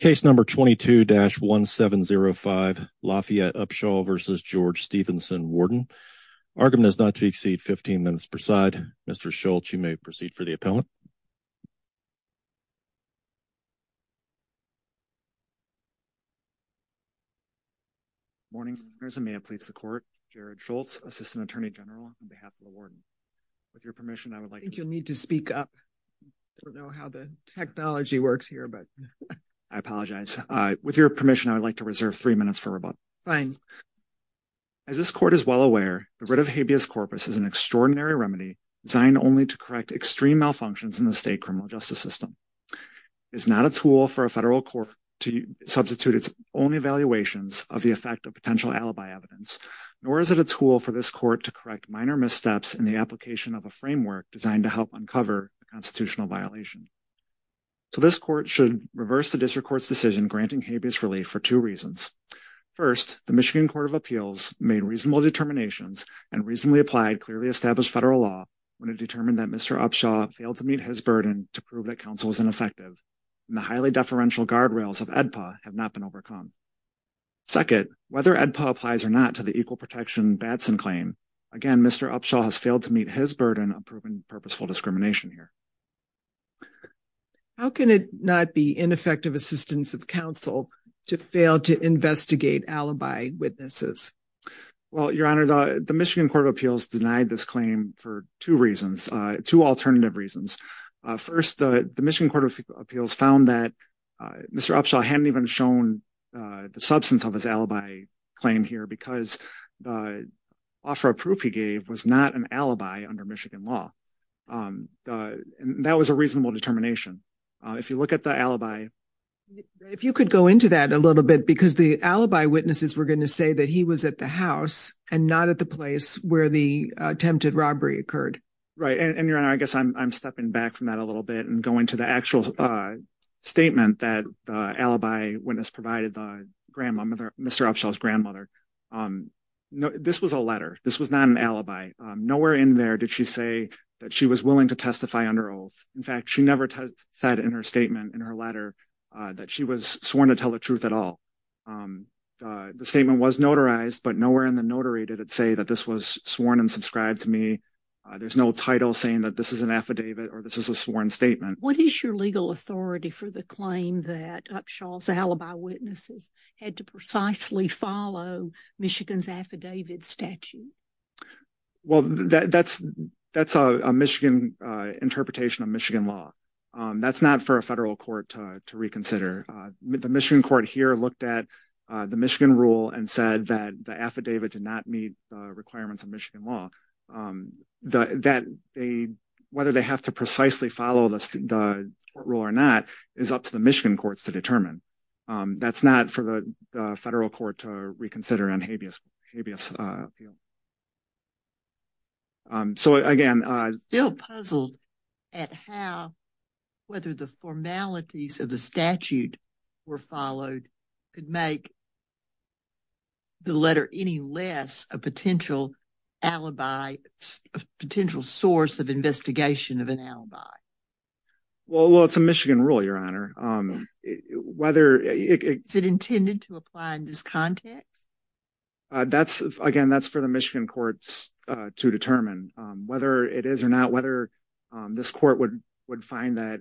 Case No. 22-1705, Lafayette Upshaw v. George Stephenson, Warden. Argument is not to exceed 15 minutes per side. Mr. Schultz, you may proceed for the appellant. Morning, there's a man pleads the court. Jared Schultz, Assistant Attorney General on behalf of the Warden. With your permission, I would like you need to speak up. Don't know how the technology works here, but I apologize. With your permission, I would like to reserve three minutes for rebuttal. Fine. As this court is well aware, the writ of habeas corpus is an extraordinary remedy designed only to correct extreme malfunctions in the state criminal justice system. It's not a tool for a federal court to substitute its own evaluations of the effect of potential alibi evidence, nor is it a tool for this court to correct minor missteps in the application of a framework designed to help uncover constitutional violation. So this court should reverse the district court's decision granting habeas relief for two reasons. First, the Michigan Court of Appeals made reasonable determinations and reasonably applied clearly established federal law when it determined that Mr. Upshaw failed to meet his burden to prove that counsel was ineffective, and the highly deferential guardrails of AEDPA have not been overcome. Second, whether AEDPA applies or not to the equal protection Batson claim, again, Mr. Upshaw has failed to meet his burden of proven purposeful discrimination here. How can it not be ineffective assistance of counsel to fail to investigate alibi witnesses? Well, Your Honor, the Michigan Court of Appeals denied this claim for two reasons, two alternative reasons. First, the Michigan Court of Appeals found that Mr. Upshaw hadn't even shown the substance of his alibi claim here because the offer of proof he gave was not an alibi under Michigan law. That was a reasonable determination. If you look at the alibi. If you could go into that a little bit because the alibi witnesses were going to say that he was at the house and not at the place where the attempted robbery occurred. Right, and Your Honor, I guess I'm stepping back from that a little bit and go into the actual statement that alibi witness provided the grandmother, Mr. Upshaw's grandmother. This was a letter. This was not an alibi. Nowhere in there did she say that she was willing to testify under oath. In fact, she never said in her statement in her letter that she was sworn to tell the truth at all. The statement was notarized, but nowhere in the notary did it say that this was sworn and subscribed to me. There's no title saying that this is an affidavit or this is a sworn statement. What is your legal authority for the claim that Upshaw's alibi witnesses had to precisely follow Michigan's affidavit statute? Well, that's that's a Michigan interpretation of Michigan law. That's not for a federal court to reconsider. The Michigan court here looked at the Michigan rule and said that the affidavit did not meet requirements of Michigan law. Whether they have to precisely follow the court rule or not is up to the Michigan courts to determine. That's not for the federal court to reconsider on habeas appeal. So again, I'm still puzzled at how whether the formalities of the statute were followed could make the letter any less a potential alibi, a potential source of investigation of an alibi. Well, it's a Michigan rule, Your Honor. Is it intended to apply in this context? Again, that's for the Michigan courts to determine whether it is or not, whether this court would find that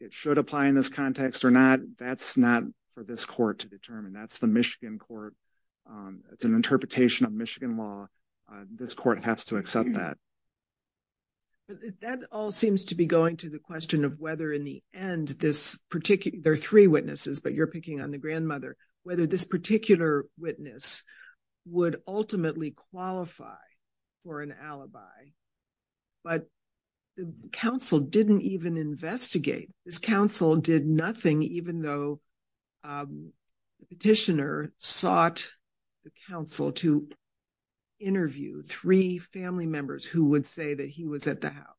it should apply in this context or not. That's not for this court to determine. That's the Michigan court. It's an interpretation of Michigan law. This court has to accept that. That all seems to be going to the question of whether in the end, there are three witnesses, but you're picking on the grandmother, whether this particular witness would ultimately qualify for an alibi. But the counsel didn't even investigate. This counsel did nothing, even though the petitioner sought the counsel to interview three family members who would say that he was at the house.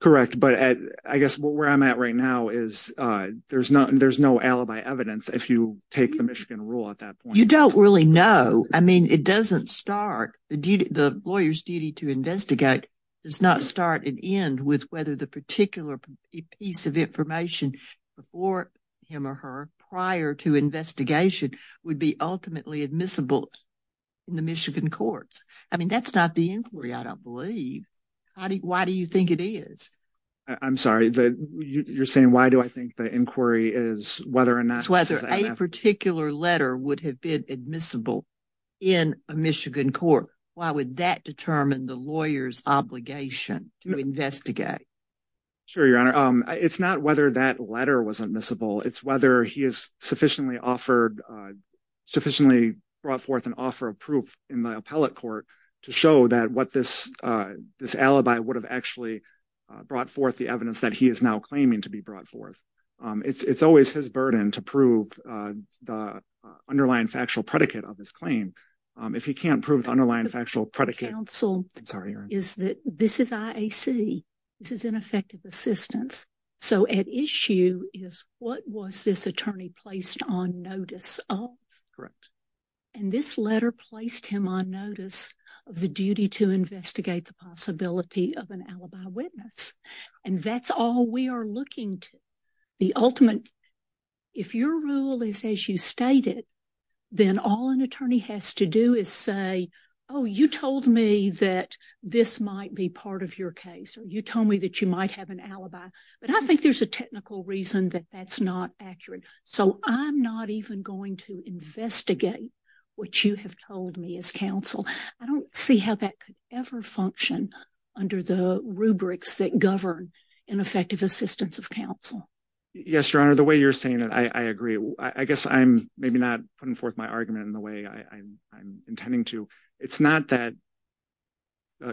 Correct. But I guess where I'm at right now is there's no alibi evidence if you take the Michigan rule at that point. You don't really know. I mean, it doesn't start. The lawyer's duty to investigate does not start and end with whether the particular piece of information before him or her prior to investigation would be ultimately admissible in the Michigan courts. I mean, that's not the inquiry, I don't believe. Why do you think it is? I'm sorry. You're saying why do I think the inquiry is whether or not... It's whether a particular letter would have been admissible in a Michigan court. Why would that determine the lawyer's obligation to investigate? Sure, Your Honor. It's not whether that letter was admissible. It's whether he has sufficiently offered, sufficiently brought forth an offer of proof in the appellate court to show that what this alibi would have actually brought forth the evidence that he is now claiming to be brought forth. It's always his burden to prove the underlying factual predicate of his claim. If he can't prove the underlying factual predicate... The counsel is that this is IAC. This is ineffective assistance. So at issue is what was this attorney placed on notice of? Correct. And this letter placed him on notice of the duty to investigate the possibility of an alibi witness. And that's all we are looking to. The ultimate... If your rule is as you stated, then all an attorney has to do is say, oh, you told me that this might be part of your case, or you told me that you might have an alibi. But I think there's a technical reason that that's not accurate. So I'm not even going to investigate what you have told me as counsel. I don't see how that could ever function under the rubrics that govern ineffective assistance of counsel. Yes, Your Honor. The way you're saying it, I agree. I guess I'm maybe not putting forth my argument in the way I'm intending to. It's not that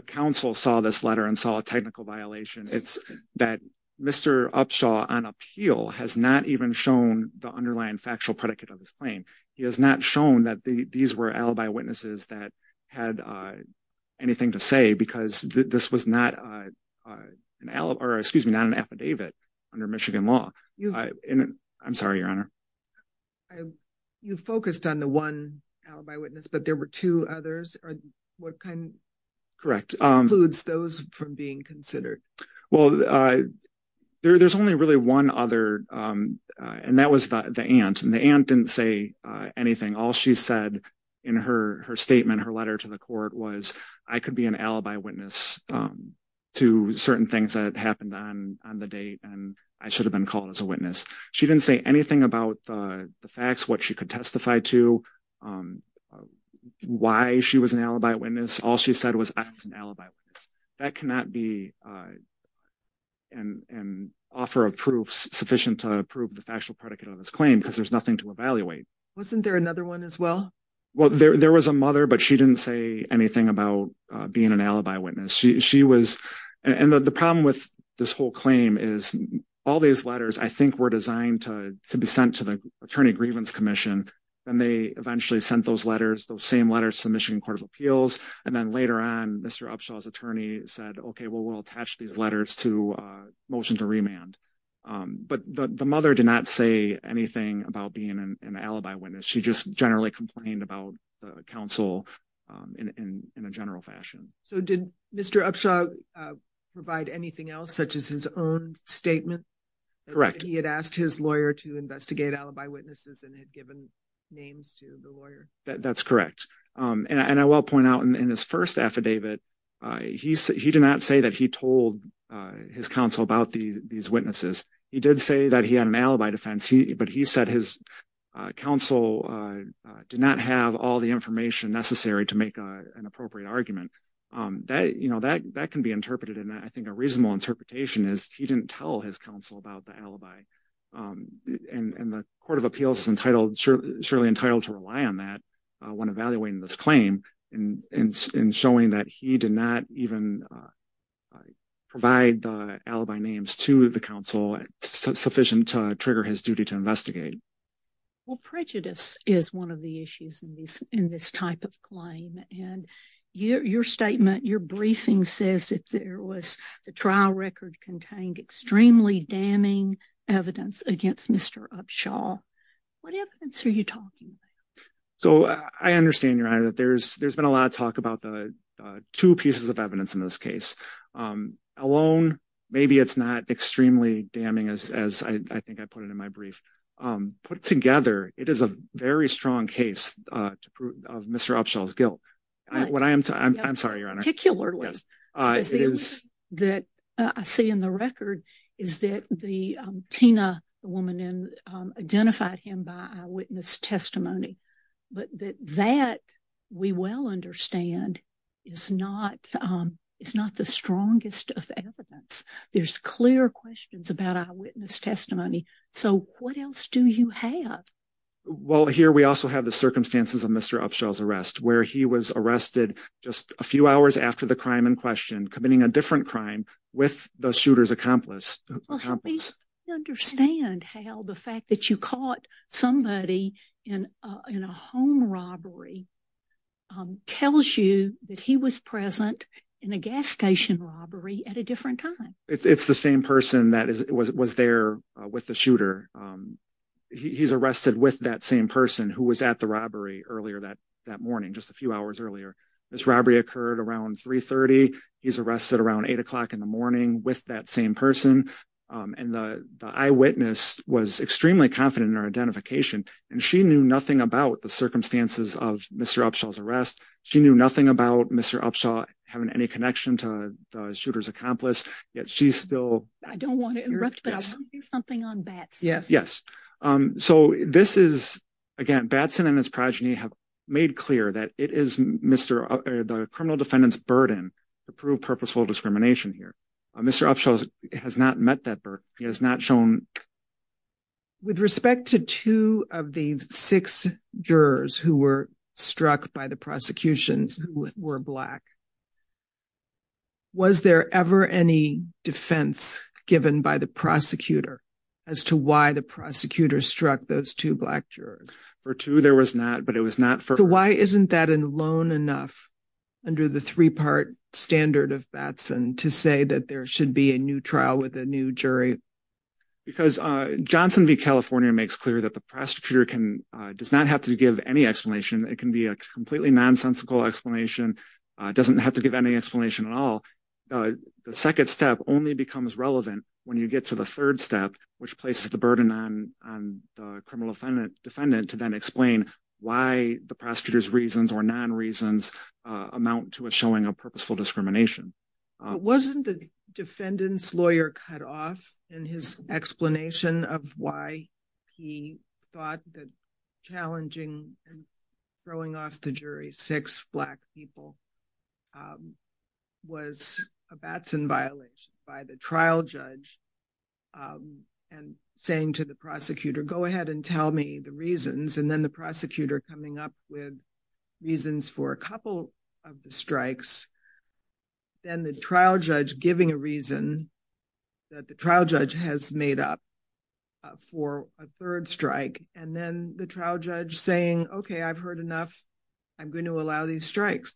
counsel saw this letter and saw a technical violation. It's that Mr. Upshaw on appeal has not even shown the underlying factual predicate of his claim. He has not shown that these were alibi witnesses that had anything to say because this was not an alibi... Or excuse me, not an affidavit under Michigan law. I'm sorry, Your Honor. You focused on the one alibi witness, but there were two others. What kind... Correct. ...includes those from being considered? Well, there's only really one other, and that was the aunt. The aunt didn't say anything. All she said in her statement, her letter to the court, was I could be an alibi witness to certain things that happened on the date, and I should have been called as a witness. She didn't say anything about the facts, what she could testify to, why she was an alibi witness. All she said was I was an alibi witness. That cannot be an offer of proof sufficient to prove the factual predicate of this claim because there's nothing to evaluate. Wasn't there another one as well? Well, there was a mother, but she didn't say anything about being an alibi witness. She was... And the problem with this whole claim is all these letters, I think, were designed to be sent to the Attorney Grievance Commission, and they eventually sent those letters, those same letters to the Michigan Court of Appeals. And then later on, Mr. Upshaw's attorney said, okay, well, we'll attach these letters to a motion to remand. But the mother did not say anything about being an alibi witness. She just generally complained about the counsel in a general fashion. So did Mr. Upshaw provide anything else, such as his own statement? Correct. He had asked his lawyer to investigate alibi witnesses and had given names to the lawyer. That's correct. And I will point out in his first affidavit, he did not say that he told his counsel about these witnesses. He did say that he had an alibi defense, but he said his counsel did not have all the information necessary to make an appropriate argument. You know, that can be interpreted, and I think a reasonable interpretation is he didn't tell his counsel about the alibi. And the Court of Appeals is entitled, surely entitled to rely on that when evaluating this claim in showing that he did not even provide the alibi names to the counsel sufficient to trigger his duty to investigate. Well, prejudice is one of the issues in this type of claim. And your statement, your briefing says that there was the trial record contained extremely damning evidence against Mr. Upshaw. What evidence are you talking about? So I understand, Your Honor, that there's been a lot of talk about the two pieces of evidence in this case. Alone, maybe it's not extremely damning, as I think I put it in my brief. Put together, it is a very strong case of Mr. Upshaw's guilt. What I am, I'm sorry, Your Honor. Particularly, that I see in the record is that the Tina woman identified him by eyewitness testimony. But that, we well understand, is not the strongest of evidence. There's clear questions about eyewitness testimony. So what else do you have? Well, here we also have the circumstances of Mr. Upshaw's arrest, where he was arrested just a few hours after the crime in question, committing a different crime with the shooter's accomplice. Well, help me understand how the fact that you caught somebody in a home robbery tells you that he was present in a gas station robbery at a different time. It's the same person that was there with the shooter. He's arrested with that same person who was at the robbery earlier that morning, just a few hours earlier. This robbery occurred around 3.30. He's arrested around 8 o'clock in the morning with that same person. And the eyewitness was extremely confident in her identification. And she knew nothing about the circumstances of Mr. Upshaw's arrest. She knew nothing about Mr. Upshaw having any connection to the shooter's accomplice. Yet she's still— I don't want to interrupt, but I want to do something on Bats. Yes. So this is, again, Batson and his progeny have made clear that it is the criminal defendant's burden to prove purposeful discrimination here. Mr. Upshaw has not met that burden. He has not shown— With respect to two of the six jurors who were struck by the prosecutions who were black, was there ever any defense given by the prosecutor as to why the prosecutor struck those two black jurors? For two, there was not, but it was not for— So why isn't that alone enough under the three-part standard of Batson to say that there should be a new trial with a new jury? Because Johnson v. California makes clear that the prosecutor does not have to give any explanation. It can be a completely nonsensical explanation. It doesn't have to give any explanation at all. The second step only becomes relevant when you get to the third step, which places the burden on the criminal defendant to then explain why the prosecutor's reasons or non-reasons amount to a showing of purposeful discrimination. Wasn't the defendant's lawyer cut off in his explanation of why he thought that challenging and throwing off the jury six black people was a Batson violation by the trial judge and saying to the prosecutor, go ahead and tell me the reasons, and then the prosecutor coming up with reasons for a couple of the strikes, then the trial judge giving a reason that the trial judge has made up for a third strike, and then the trial judge saying, okay, I've heard enough. I'm going to allow these strikes.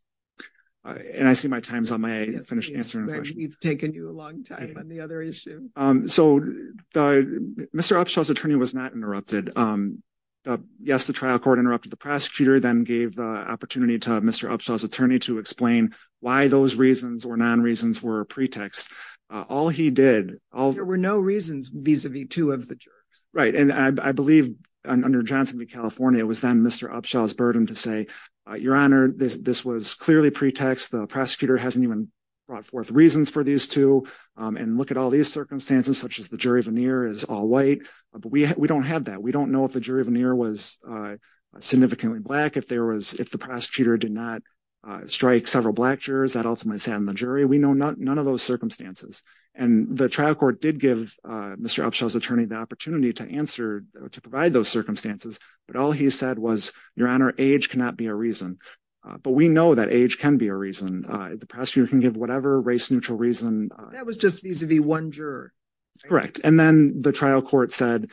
And I see my time's on my end. I finished answering the question. We've taken you a long time on the other issue. So Mr. Upshaw's attorney was not interrupted. Yes, the trial court interrupted the prosecutor, then gave the opportunity to Mr. Upshaw's attorney to explain why those reasons or non-reasons were a pretext. All he did, all... There were no reasons vis-a-vis two of the jerks. Right, and I believe under Johnson v. California, it was then Mr. Upshaw's burden to say, Your Honor, this was clearly pretext. The prosecutor hasn't even brought forth reasons for these two. And look at all these circumstances, such as the jury veneer is all white. But we don't have that. We don't know if the jury veneer was significantly black. If there was... If the prosecutor did not strike several black jurors, that ultimately sat in the jury. We know none of those circumstances. And the trial court did give Mr. Upshaw's attorney the opportunity to answer, to provide those circumstances. But all he said was, Your Honor, age cannot be a reason. But we know that age can be a reason. The prosecutor can give whatever race-neutral reason. That was just vis-a-vis one juror. Correct. And then the trial court said,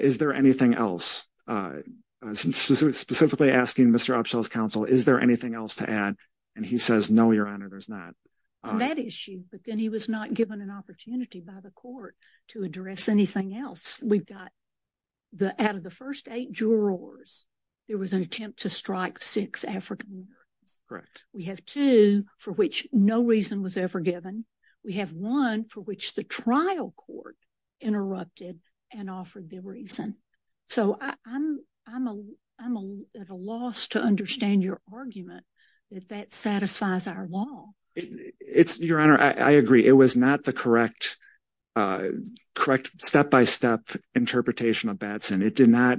Is there anything else? Specifically asking Mr. Upshaw's counsel, Is there anything else to add? And he says, No, Your Honor, there's not. That issue. But then he was not given an opportunity by the court to address anything else. We've got, out of the first eight jurors, there was an attempt to strike six African-Americans. Correct. We have two for which no reason was ever given. We have one for which the trial court interrupted and offered the reason. So I'm at a loss to understand your argument that that satisfies our law. It's, Your Honor, I agree. It was not the correct, correct step-by-step interpretation of Batson. It did not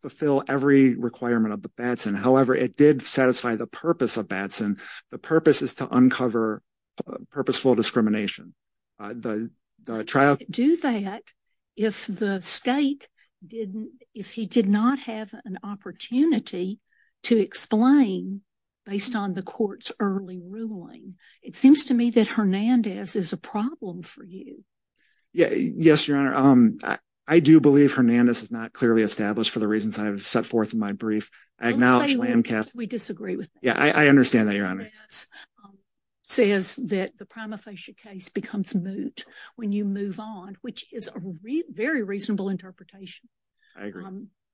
fulfill every requirement of the Batson. However, it did satisfy the purpose of Batson. The purpose is to uncover purposeful discrimination. The trial. Do that if the state didn't, if he did not have an opportunity to explain based on the court's early ruling. It seems to me that Hernandez is a problem for you. Yes, Your Honor. I do believe Hernandez is not clearly established for the reasons I've set forth in my brief. I acknowledge Lancaster. We disagree with. Yeah, I understand that, Your Honor. Says that the prima facie case becomes moot when you move on, which is a very reasonable interpretation. I agree.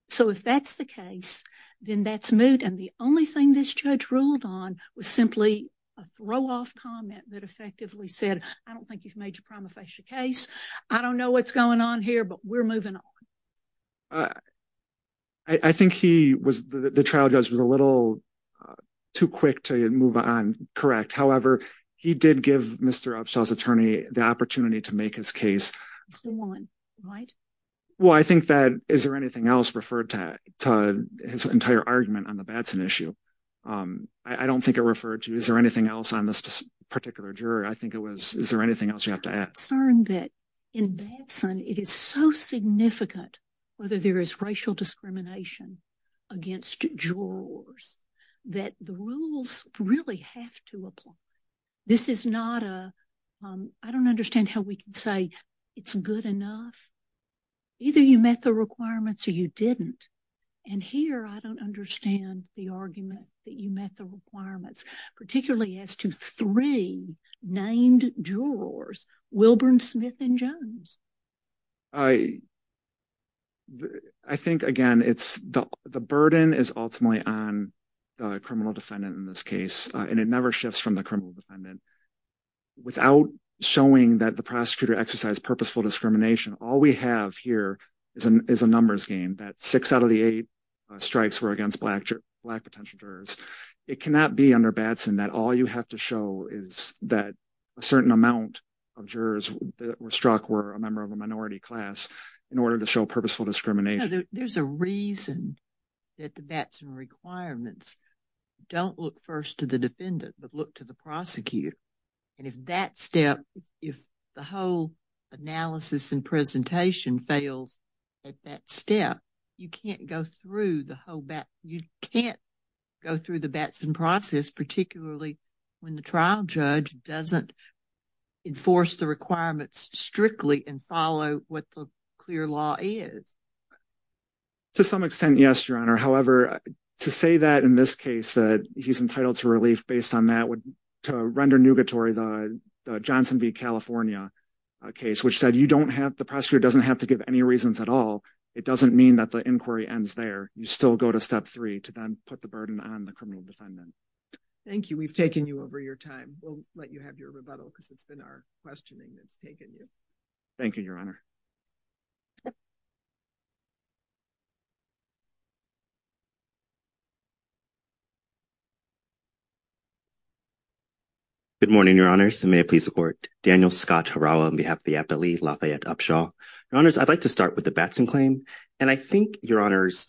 So if that's the case, then that's moot. And the only thing this judge ruled on was simply a throw-off comment that effectively said, I don't think you've made your prima facie case. I don't know what's going on here, but we're moving on. I think he was, the trial judge was a little too quick to move on correct. However, he did give Mr. Upshaw's attorney the opportunity to make his case. It's the one, right? Well, I think that, is there anything else referred to his entire argument on the Batson issue? I don't think it referred to. Is there anything else on this particular jury? I think it was, is there anything else you have to add? I'm concerned that in Batson, it is so significant whether there is racial discrimination against jurors that the rules really have to apply. This is not a, I don't understand how we can say it's good enough. Either you met the requirements or you didn't. And here, I don't understand the argument that you met the requirements, particularly as to three named jurors, Wilburn, Smith, and Jones. I, I think again, it's, the burden is ultimately on the criminal defendant in this case, and it never shifts from the criminal defendant. Without showing that the prosecutor exercised purposeful discrimination, all we have here is a numbers game, that six out of the eight strikes were against black potential jurors. It cannot be under Batson that all you have to show is that a certain amount of jurors that were struck were a member of a minority class in order to show purposeful discrimination. There's a reason that the Batson requirements don't look first to the defendant, but look to the prosecutor. And if that step, if the whole analysis and presentation fails at that step, you can't go through the whole Batson, you can't go through the Batson process, particularly when the trial judge doesn't enforce the requirements strictly and follow what the clear law is. To some extent, yes, Your Honor. However, to say that in this case, that he's entitled to relief based on that would, to render nugatory the Johnson v. California case, which said you don't have, the prosecutor doesn't have to give any reasons at all. It doesn't mean that the inquiry ends there. You still go to step three to then put the burden on the criminal defendant. Thank you. We've taken you over your time. We'll let you have your rebuttal because it's been our questioning that's taken you. Thank you, Your Honor. Good morning, Your Honors. May I please support Daniel Scott Harawa on behalf of the appellee, Lafayette Upshaw. Your Honors, I'd like to start with the Batson claim. And I think, Your Honors,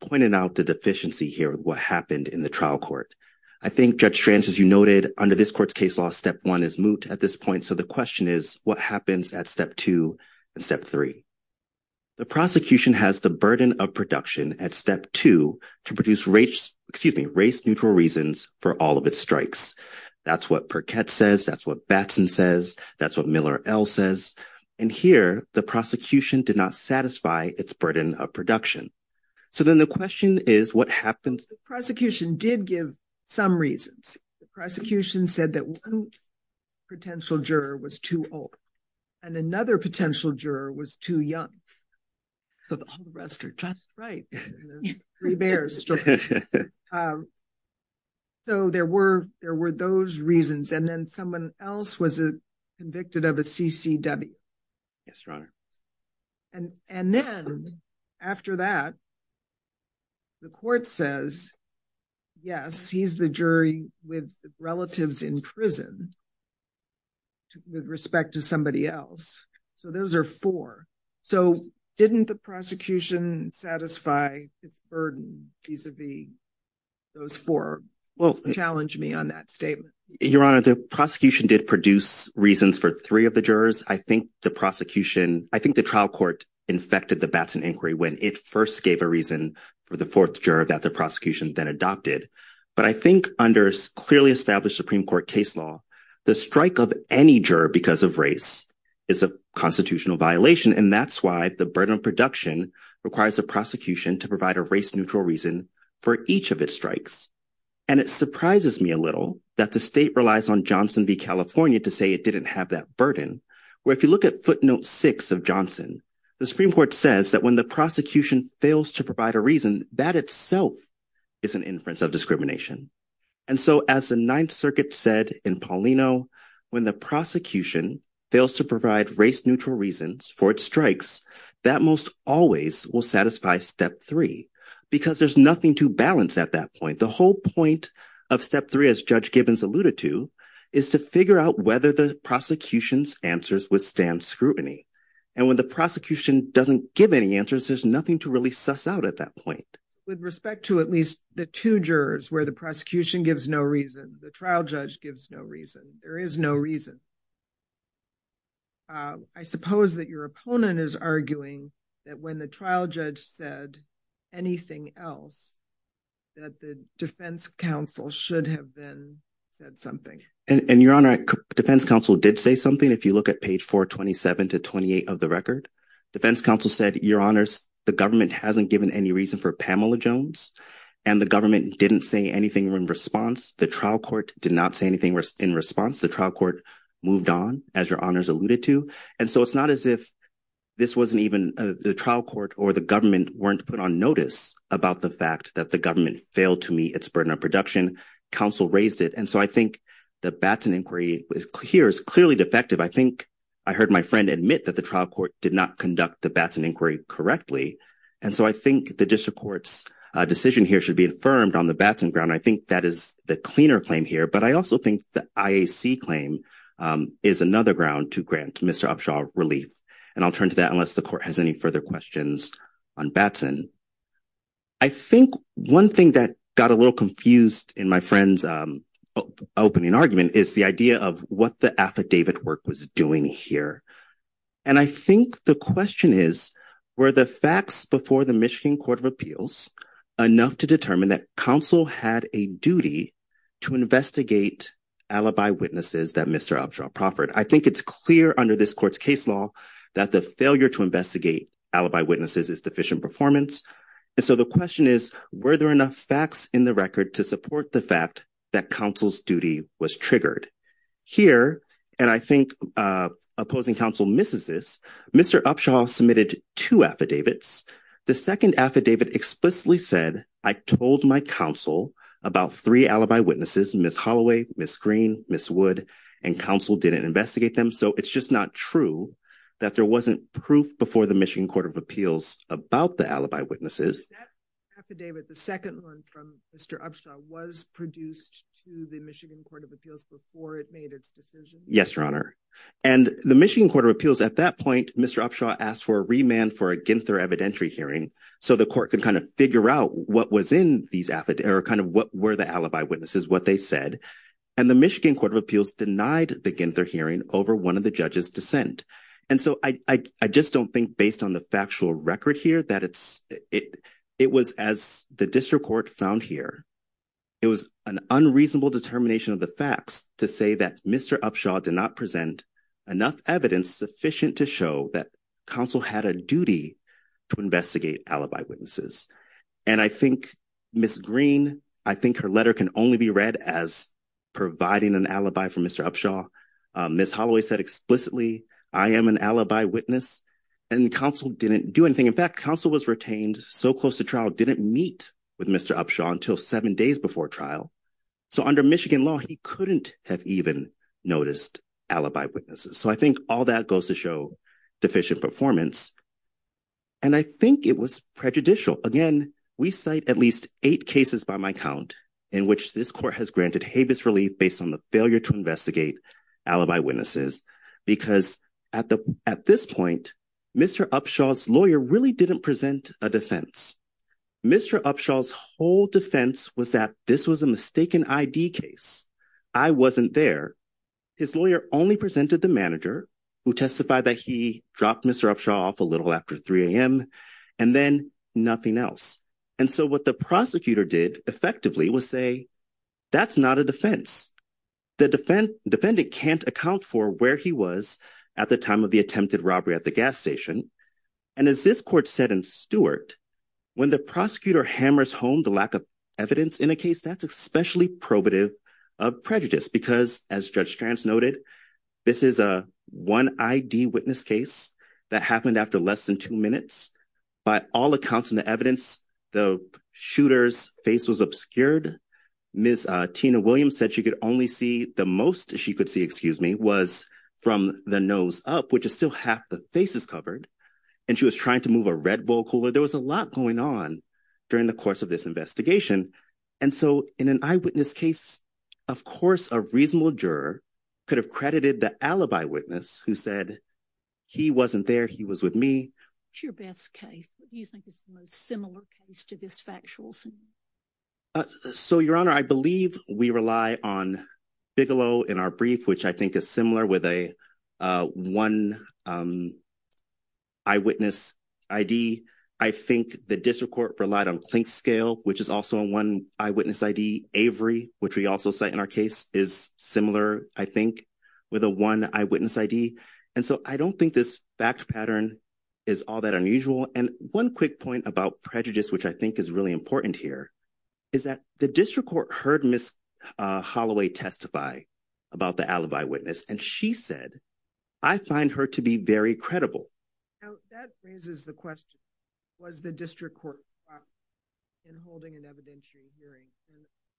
pointed out the deficiency here with what happened in the trial court. I think, Judge Strange, as you noted, under this court's case law, step one is moot at this point. So the question is, what happens at step two and step three? The prosecution has the burden of production at step two to produce race, excuse me, race-neutral reasons for all of its strikes. That's what Perkett says. That's what Batson says. That's what Miller-Ell says. And here, the prosecution did not satisfy its burden of production. So then the question is, what happens? The prosecution did give some reasons. The prosecution said that one potential juror was too old and another potential juror was too young. So the whole rest are just right. Three bears. So there were those reasons. And then someone else was convicted of a CCW. And then, after that, the court says, yes, he's the jury with relatives in prison with respect to somebody else. So those are four. So didn't the prosecution satisfy its burden vis-a-vis those four? Well, challenge me on that statement. Your Honor, the prosecution did produce reasons for three of the jurors. I think the trial court infected the Batson inquiry when it first gave a reason for the fourth juror that the prosecution then adopted. But I think under clearly established Supreme Court case law, the strike of any juror because of race is a constitutional violation. And that's why the burden of production requires the prosecution to provide a race-neutral reason for each of its strikes. And it surprises me a little that the state relies on Johnson v. California to say it didn't have that burden, where if you look at footnote six of Johnson, the Supreme Court says that when the prosecution fails to provide a reason, that itself is an inference of discrimination. And so as the Ninth Circuit said in Paulino, when the prosecution fails to provide race-neutral reasons for its strikes, that most always will satisfy step three because there's nothing to balance at that point. The whole point of step three, as Judge Gibbons alluded to, is to figure out whether the prosecution's answers withstand scrutiny. And when the prosecution doesn't give any answers, there's nothing to really suss out at that point. With respect to at least the two jurors where the prosecution gives no reason, the trial judge gives no reason, there is no reason. I suppose that your opponent is arguing that when the trial judge said anything else, that the defense counsel should have then said something. And your honor, defense counsel did say something. If you look at page 427 to 28 of the record, defense counsel said, your honors, the government hasn't given any reason for Pamela Jones and the government didn't say anything in response. The trial court did not say anything in response. The trial court moved on, as your honors alluded to. And so it's not as if this wasn't even the trial court or the government weren't put on notice about the fact that the government failed to meet its burden of production. Counsel raised it. And so I think the Batson inquiry here is clearly defective. I think I heard my friend admit that the trial court did not conduct the Batson inquiry correctly. And so I think the district court's decision here should be affirmed on the Batson ground. I think that is the cleaner claim here. But I also think the IAC claim is another ground to grant Mr. Upshaw relief. And I'll turn to that unless the court has any further questions on Batson. I think one thing that got a little confused in my friend's opening argument is the idea of what the affidavit work was doing here. And I think the question is, were the facts before the Michigan Court of Appeals enough to determine that counsel had a duty to investigate alibi witnesses that Mr. Upshaw proffered? I think it's clear under this court's case law that the failure to investigate alibi witnesses is deficient performance. And so the question is, were there enough facts in the record to support the fact that counsel's duty was triggered? Here, and I think opposing counsel misses this, Mr. Upshaw submitted two affidavits. The second affidavit explicitly said, I told my counsel about three alibi witnesses, Ms. Holloway, Ms. Green, Ms. Wood, and counsel didn't investigate them. So it's just not true that there wasn't proof before the Michigan Court of Appeals about the alibi witnesses. Was that affidavit, the second one from Mr. Upshaw, was produced to the Michigan Court of Appeals before it made its decision? Yes, Your Honor. And the Michigan Court of Appeals at that point, Mr. Upshaw asked for a remand for a Ginther evidentiary hearing so the court could kind of figure out what was in these affidavits, or kind of what were the alibi witnesses, what they said. And the Michigan Court of Appeals denied the Ginther hearing over one of the judges' dissent. And so I just don't think based on the factual record here that it was, as the district court found here, it was an unreasonable determination of the facts to say that Mr. Upshaw did not present enough evidence sufficient to show that counsel had a duty to investigate alibi witnesses. And I think Ms. Green, I think her letter can only be read as providing an alibi for Mr. Upshaw. Ms. Holloway said explicitly, I am an alibi witness and counsel didn't do anything. In fact, counsel was retained so close to trial, didn't meet with Mr. Upshaw until seven days before trial. So under Michigan law, he couldn't have even noticed alibi witnesses. So I think all that goes to show deficient performance. And I think it was prejudicial. Again, we cite at least eight cases by my count in which this court has granted habeas relief based on the failure to investigate alibi witnesses because at this point, Mr. Upshaw's lawyer really didn't present a defense. Mr. Upshaw's whole defense was that this was a mistaken ID case. I wasn't there. His lawyer only presented the manager who testified that he dropped Mr. Upshaw off a little after 3 a.m. and then nothing else. And so what the prosecutor did effectively was say, that's not a defense. The defendant can't account for where he was at the time of the attempted robbery at the gas station. And as this court said in Stewart, when the prosecutor hammers home the lack of evidence in a case, that's especially probative of prejudice because as Judge Strance noted, this is a one ID witness case that happened after less than two minutes. By all accounts in the evidence, the shooter's face was obscured. Ms. Tina Williams said she could only see, the most she could see, excuse me, was from the nose up, which is still half the face is covered. And she was trying to move a Red Bull cooler. There was a lot going on during the course of this investigation. And so in an eyewitness case, of course, a reasonable juror could have credited the alibi witness who said, he wasn't there. He was with me. What's your best case that you think is the most similar case to this factual scene? So, Your Honor, I believe we rely on Bigelow in our brief, which I think is similar with a one eyewitness ID. I think the district court relied on Klinkscale, which is also a one eyewitness ID. Avery, which we also cite in our case, is similar, I think, with a one eyewitness ID. And so I don't think this fact pattern is all that unusual. And one quick point about prejudice, which I think is really important here, is that the district court heard Ms. Holloway testify about the alibi witness. And she said, I find her to be very credible. Now, that raises the question, was the district court in holding an evidentiary hearing?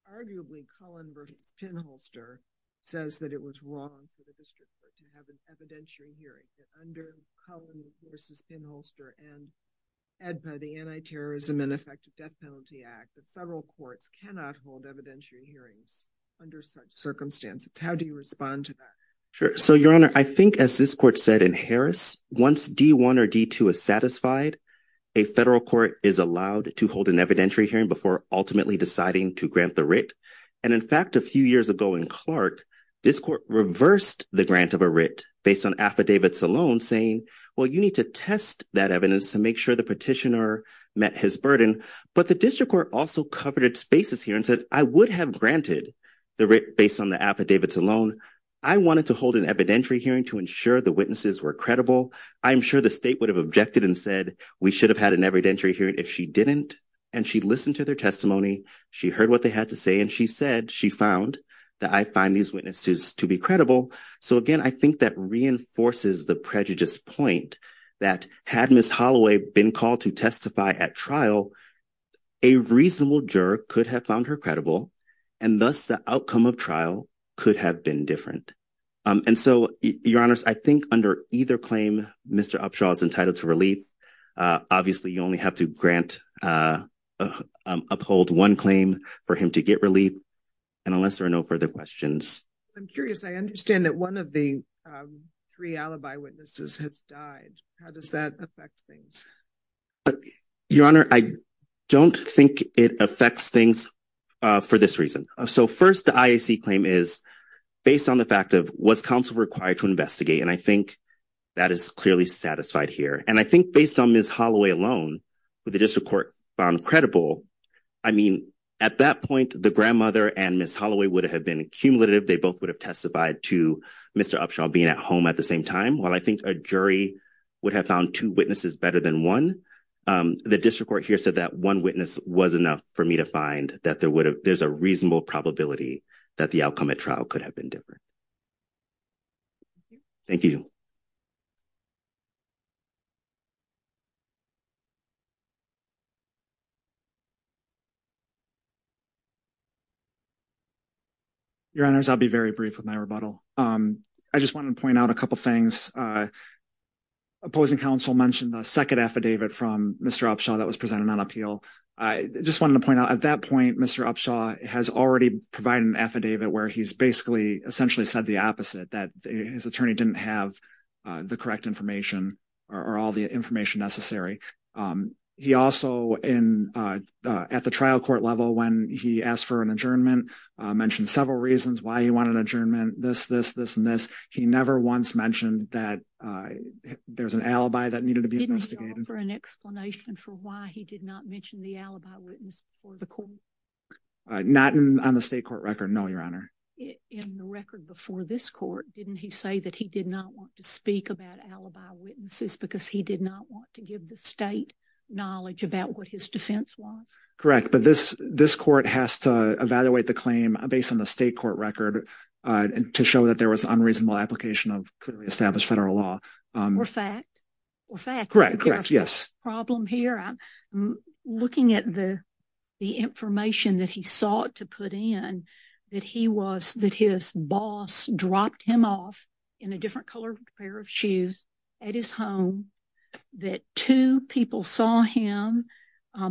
Arguably, Cullen versus Penholster says that it was wrong for the district court to have an evidentiary hearing. That under Cullen versus Penholster and the Anti-Terrorism and Effective Death Penalty Act, the federal courts cannot hold evidentiary hearings under such circumstances. How do you respond to that? Sure. So, Your Honor, I think as this court said in Harris, once D-1 or D-2 is satisfied, a federal court is allowed to hold an evidentiary hearing before ultimately deciding to grant the writ. And in fact, a few years ago in Clark, this court reversed the grant of a writ based on affidavits alone saying, well, you need to test that evidence to make sure the petitioner met his burden. But the district court also covered its bases here and said, I would have granted the writ based on the affidavits alone. I wanted to hold an evidentiary hearing to ensure the witnesses were credible. I'm sure the state would have objected and said, we should have had an evidentiary hearing if she didn't. And she listened to their testimony. She heard what they had to say. And she said she found that I find these witnesses to be credible. So again, I think that reinforces the prejudiced point that had Ms. Holloway been called to testify at trial, a reasonable juror could have found her credible and thus the outcome of trial could have been different. And so, Your Honors, I think under either claim, Mr. Upshaw is entitled to relief. Obviously, you only have to grant, uphold one claim for him to get relief. And unless there are no further questions. I'm curious. I understand that one of the three alibi witnesses has died. How does that affect things? Your Honor, I don't think it affects things for this reason. So first, the IAC claim is based on the fact of was counsel required to investigate? And I think that is clearly satisfied here. And I think based on Ms. Holloway alone, the district court found credible. I mean, at that point, the grandmother and Ms. Holloway would have been accumulative. They both would have testified to Mr. Upshaw being at home at the same time. While I think a jury would have found two witnesses better than one, the district court here said that one witness was enough for me to find that there's a reasonable probability that the outcome at trial could have been different. Thank you. Your Honors, I'll be very brief with my rebuttal. I just wanted to point out a couple things. Opposing counsel mentioned the second affidavit from Mr. Upshaw that was presented on appeal. I just wanted to point out at that point, Mr. Upshaw has already provided an affidavit where he's basically essentially said the opposite that his attorney didn't have the correct information or all the information necessary. He also in at the trial court level when he asked for an adjournment, mentioned several reasons why he wanted adjournment, this, this, this, and this. He never once mentioned that there's an alibi that needed to be investigated. Didn't he offer an explanation for why he did not mention the alibi witness before the court? Not on the state court record, no, Your Honor. In the record before this court, didn't he say that he did not want to speak about alibi witnesses because he did not want to give the state knowledge about what his defense was? Correct, but this, this court has to evaluate the claim based on the state court record to show that there was unreasonable application of clearly established federal law. Or fact, or fact. Correct, correct, yes. Problem here, I'm looking at the, the information that he sought to put in that he was, that his boss dropped him off in a different color pair of shoes at his home, that two people saw him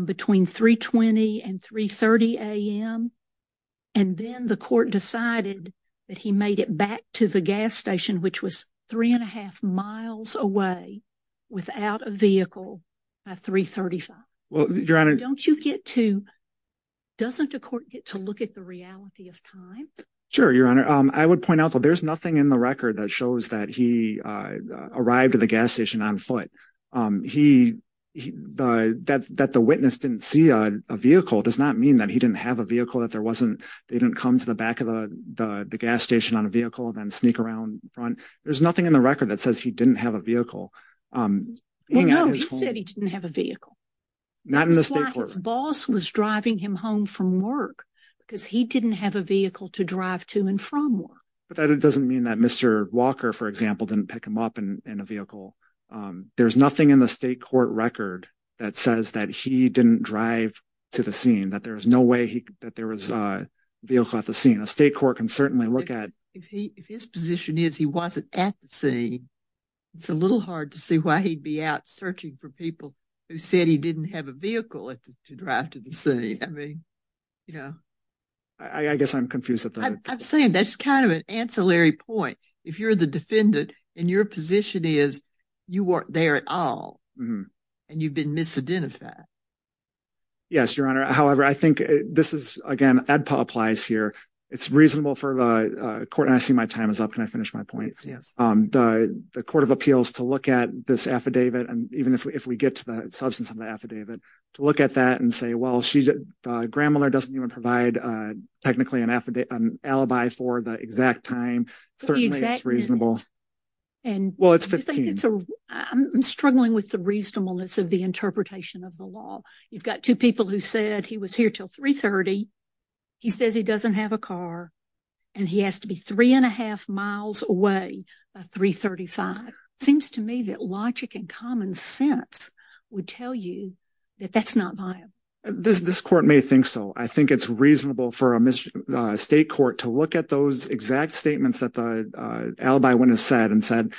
between 3 20 and 3 30 a.m. And then the court decided that he made it back to the gas station, which was three and a half miles away without a vehicle at 3 35. Well, Your Honor. Don't you get to, doesn't the court get to look at the reality of time? Sure, Your Honor. I would point out that there's nothing in the record that shows that he arrived at the gas station on foot. He, that, that the witness didn't see a vehicle does not mean that he didn't have a vehicle, that there wasn't, they didn't come to the back of the, the gas station on a vehicle and then sneak around front. There's nothing in the record that says he didn't have a vehicle. Well, no, he said he didn't have a vehicle. Not in the state court. That's why his boss was driving him home from work because he didn't have a vehicle to drive to and from work. But that doesn't mean that Mr. Walker, for example, didn't pick him up in a vehicle. There's nothing in the state court record that says that he didn't drive to the scene, that there was no way he, that there was a vehicle at the scene. A state court can certainly look at. If he, if his position is he wasn't at the scene, it's a little hard to see why he'd be out searching for people who said he didn't have a vehicle at the, to drive to the scene. I mean, you know. I guess I'm confused at that. I'm saying that's kind of an ancillary point. If you're the defendant and your position is you weren't there at all and you've been misidentified. Yes, Your Honor. However, I think this is, again, ADPA applies here. It's reasonable for the court, and I see my time is up. Can I finish my point? Yes. The Court of Appeals to look at this affidavit and even if we get to the substance of the affidavit to look at that and say, well, she, Grammler doesn't even provide technically an affidavit, an alibi for the exact time. Certainly it's reasonable. Well, it's 15. I'm struggling with the reasonableness of the interpretation of the law. You've got two people who said he was here till 3.30. He says he doesn't have a car and he has to be three and a half miles away by 3.35. Seems to me that logic and common sense would tell you that that's not viable. This court may think so. I think it's reasonable for a state court to look at those exact statements that the alibi witness said and said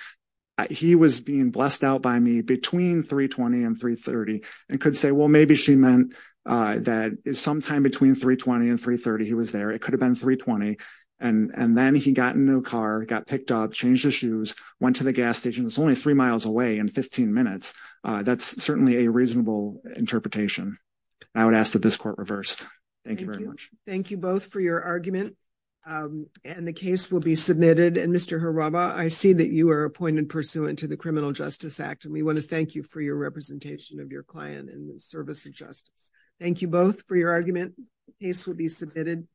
he was being blessed out by me between 3.20 and 3.30 and could say, well, maybe she meant that is sometime between 3.20 and 3.30. He was there. It could have been 3.20 and then he got a new car, got picked up, changed his shoes, went to the gas station. It's only three miles away in 15 minutes. That's certainly a reasonable interpretation. I would ask that this court reverse. Thank you very much. Thank you both for your argument. And the case will be submitted. And Mr. Harabaugh, I see that you are appointed pursuant to the Criminal Justice Act and we want to thank you for your representation of your client in the service of justice. Thank you both for your argument. Case will be submitted.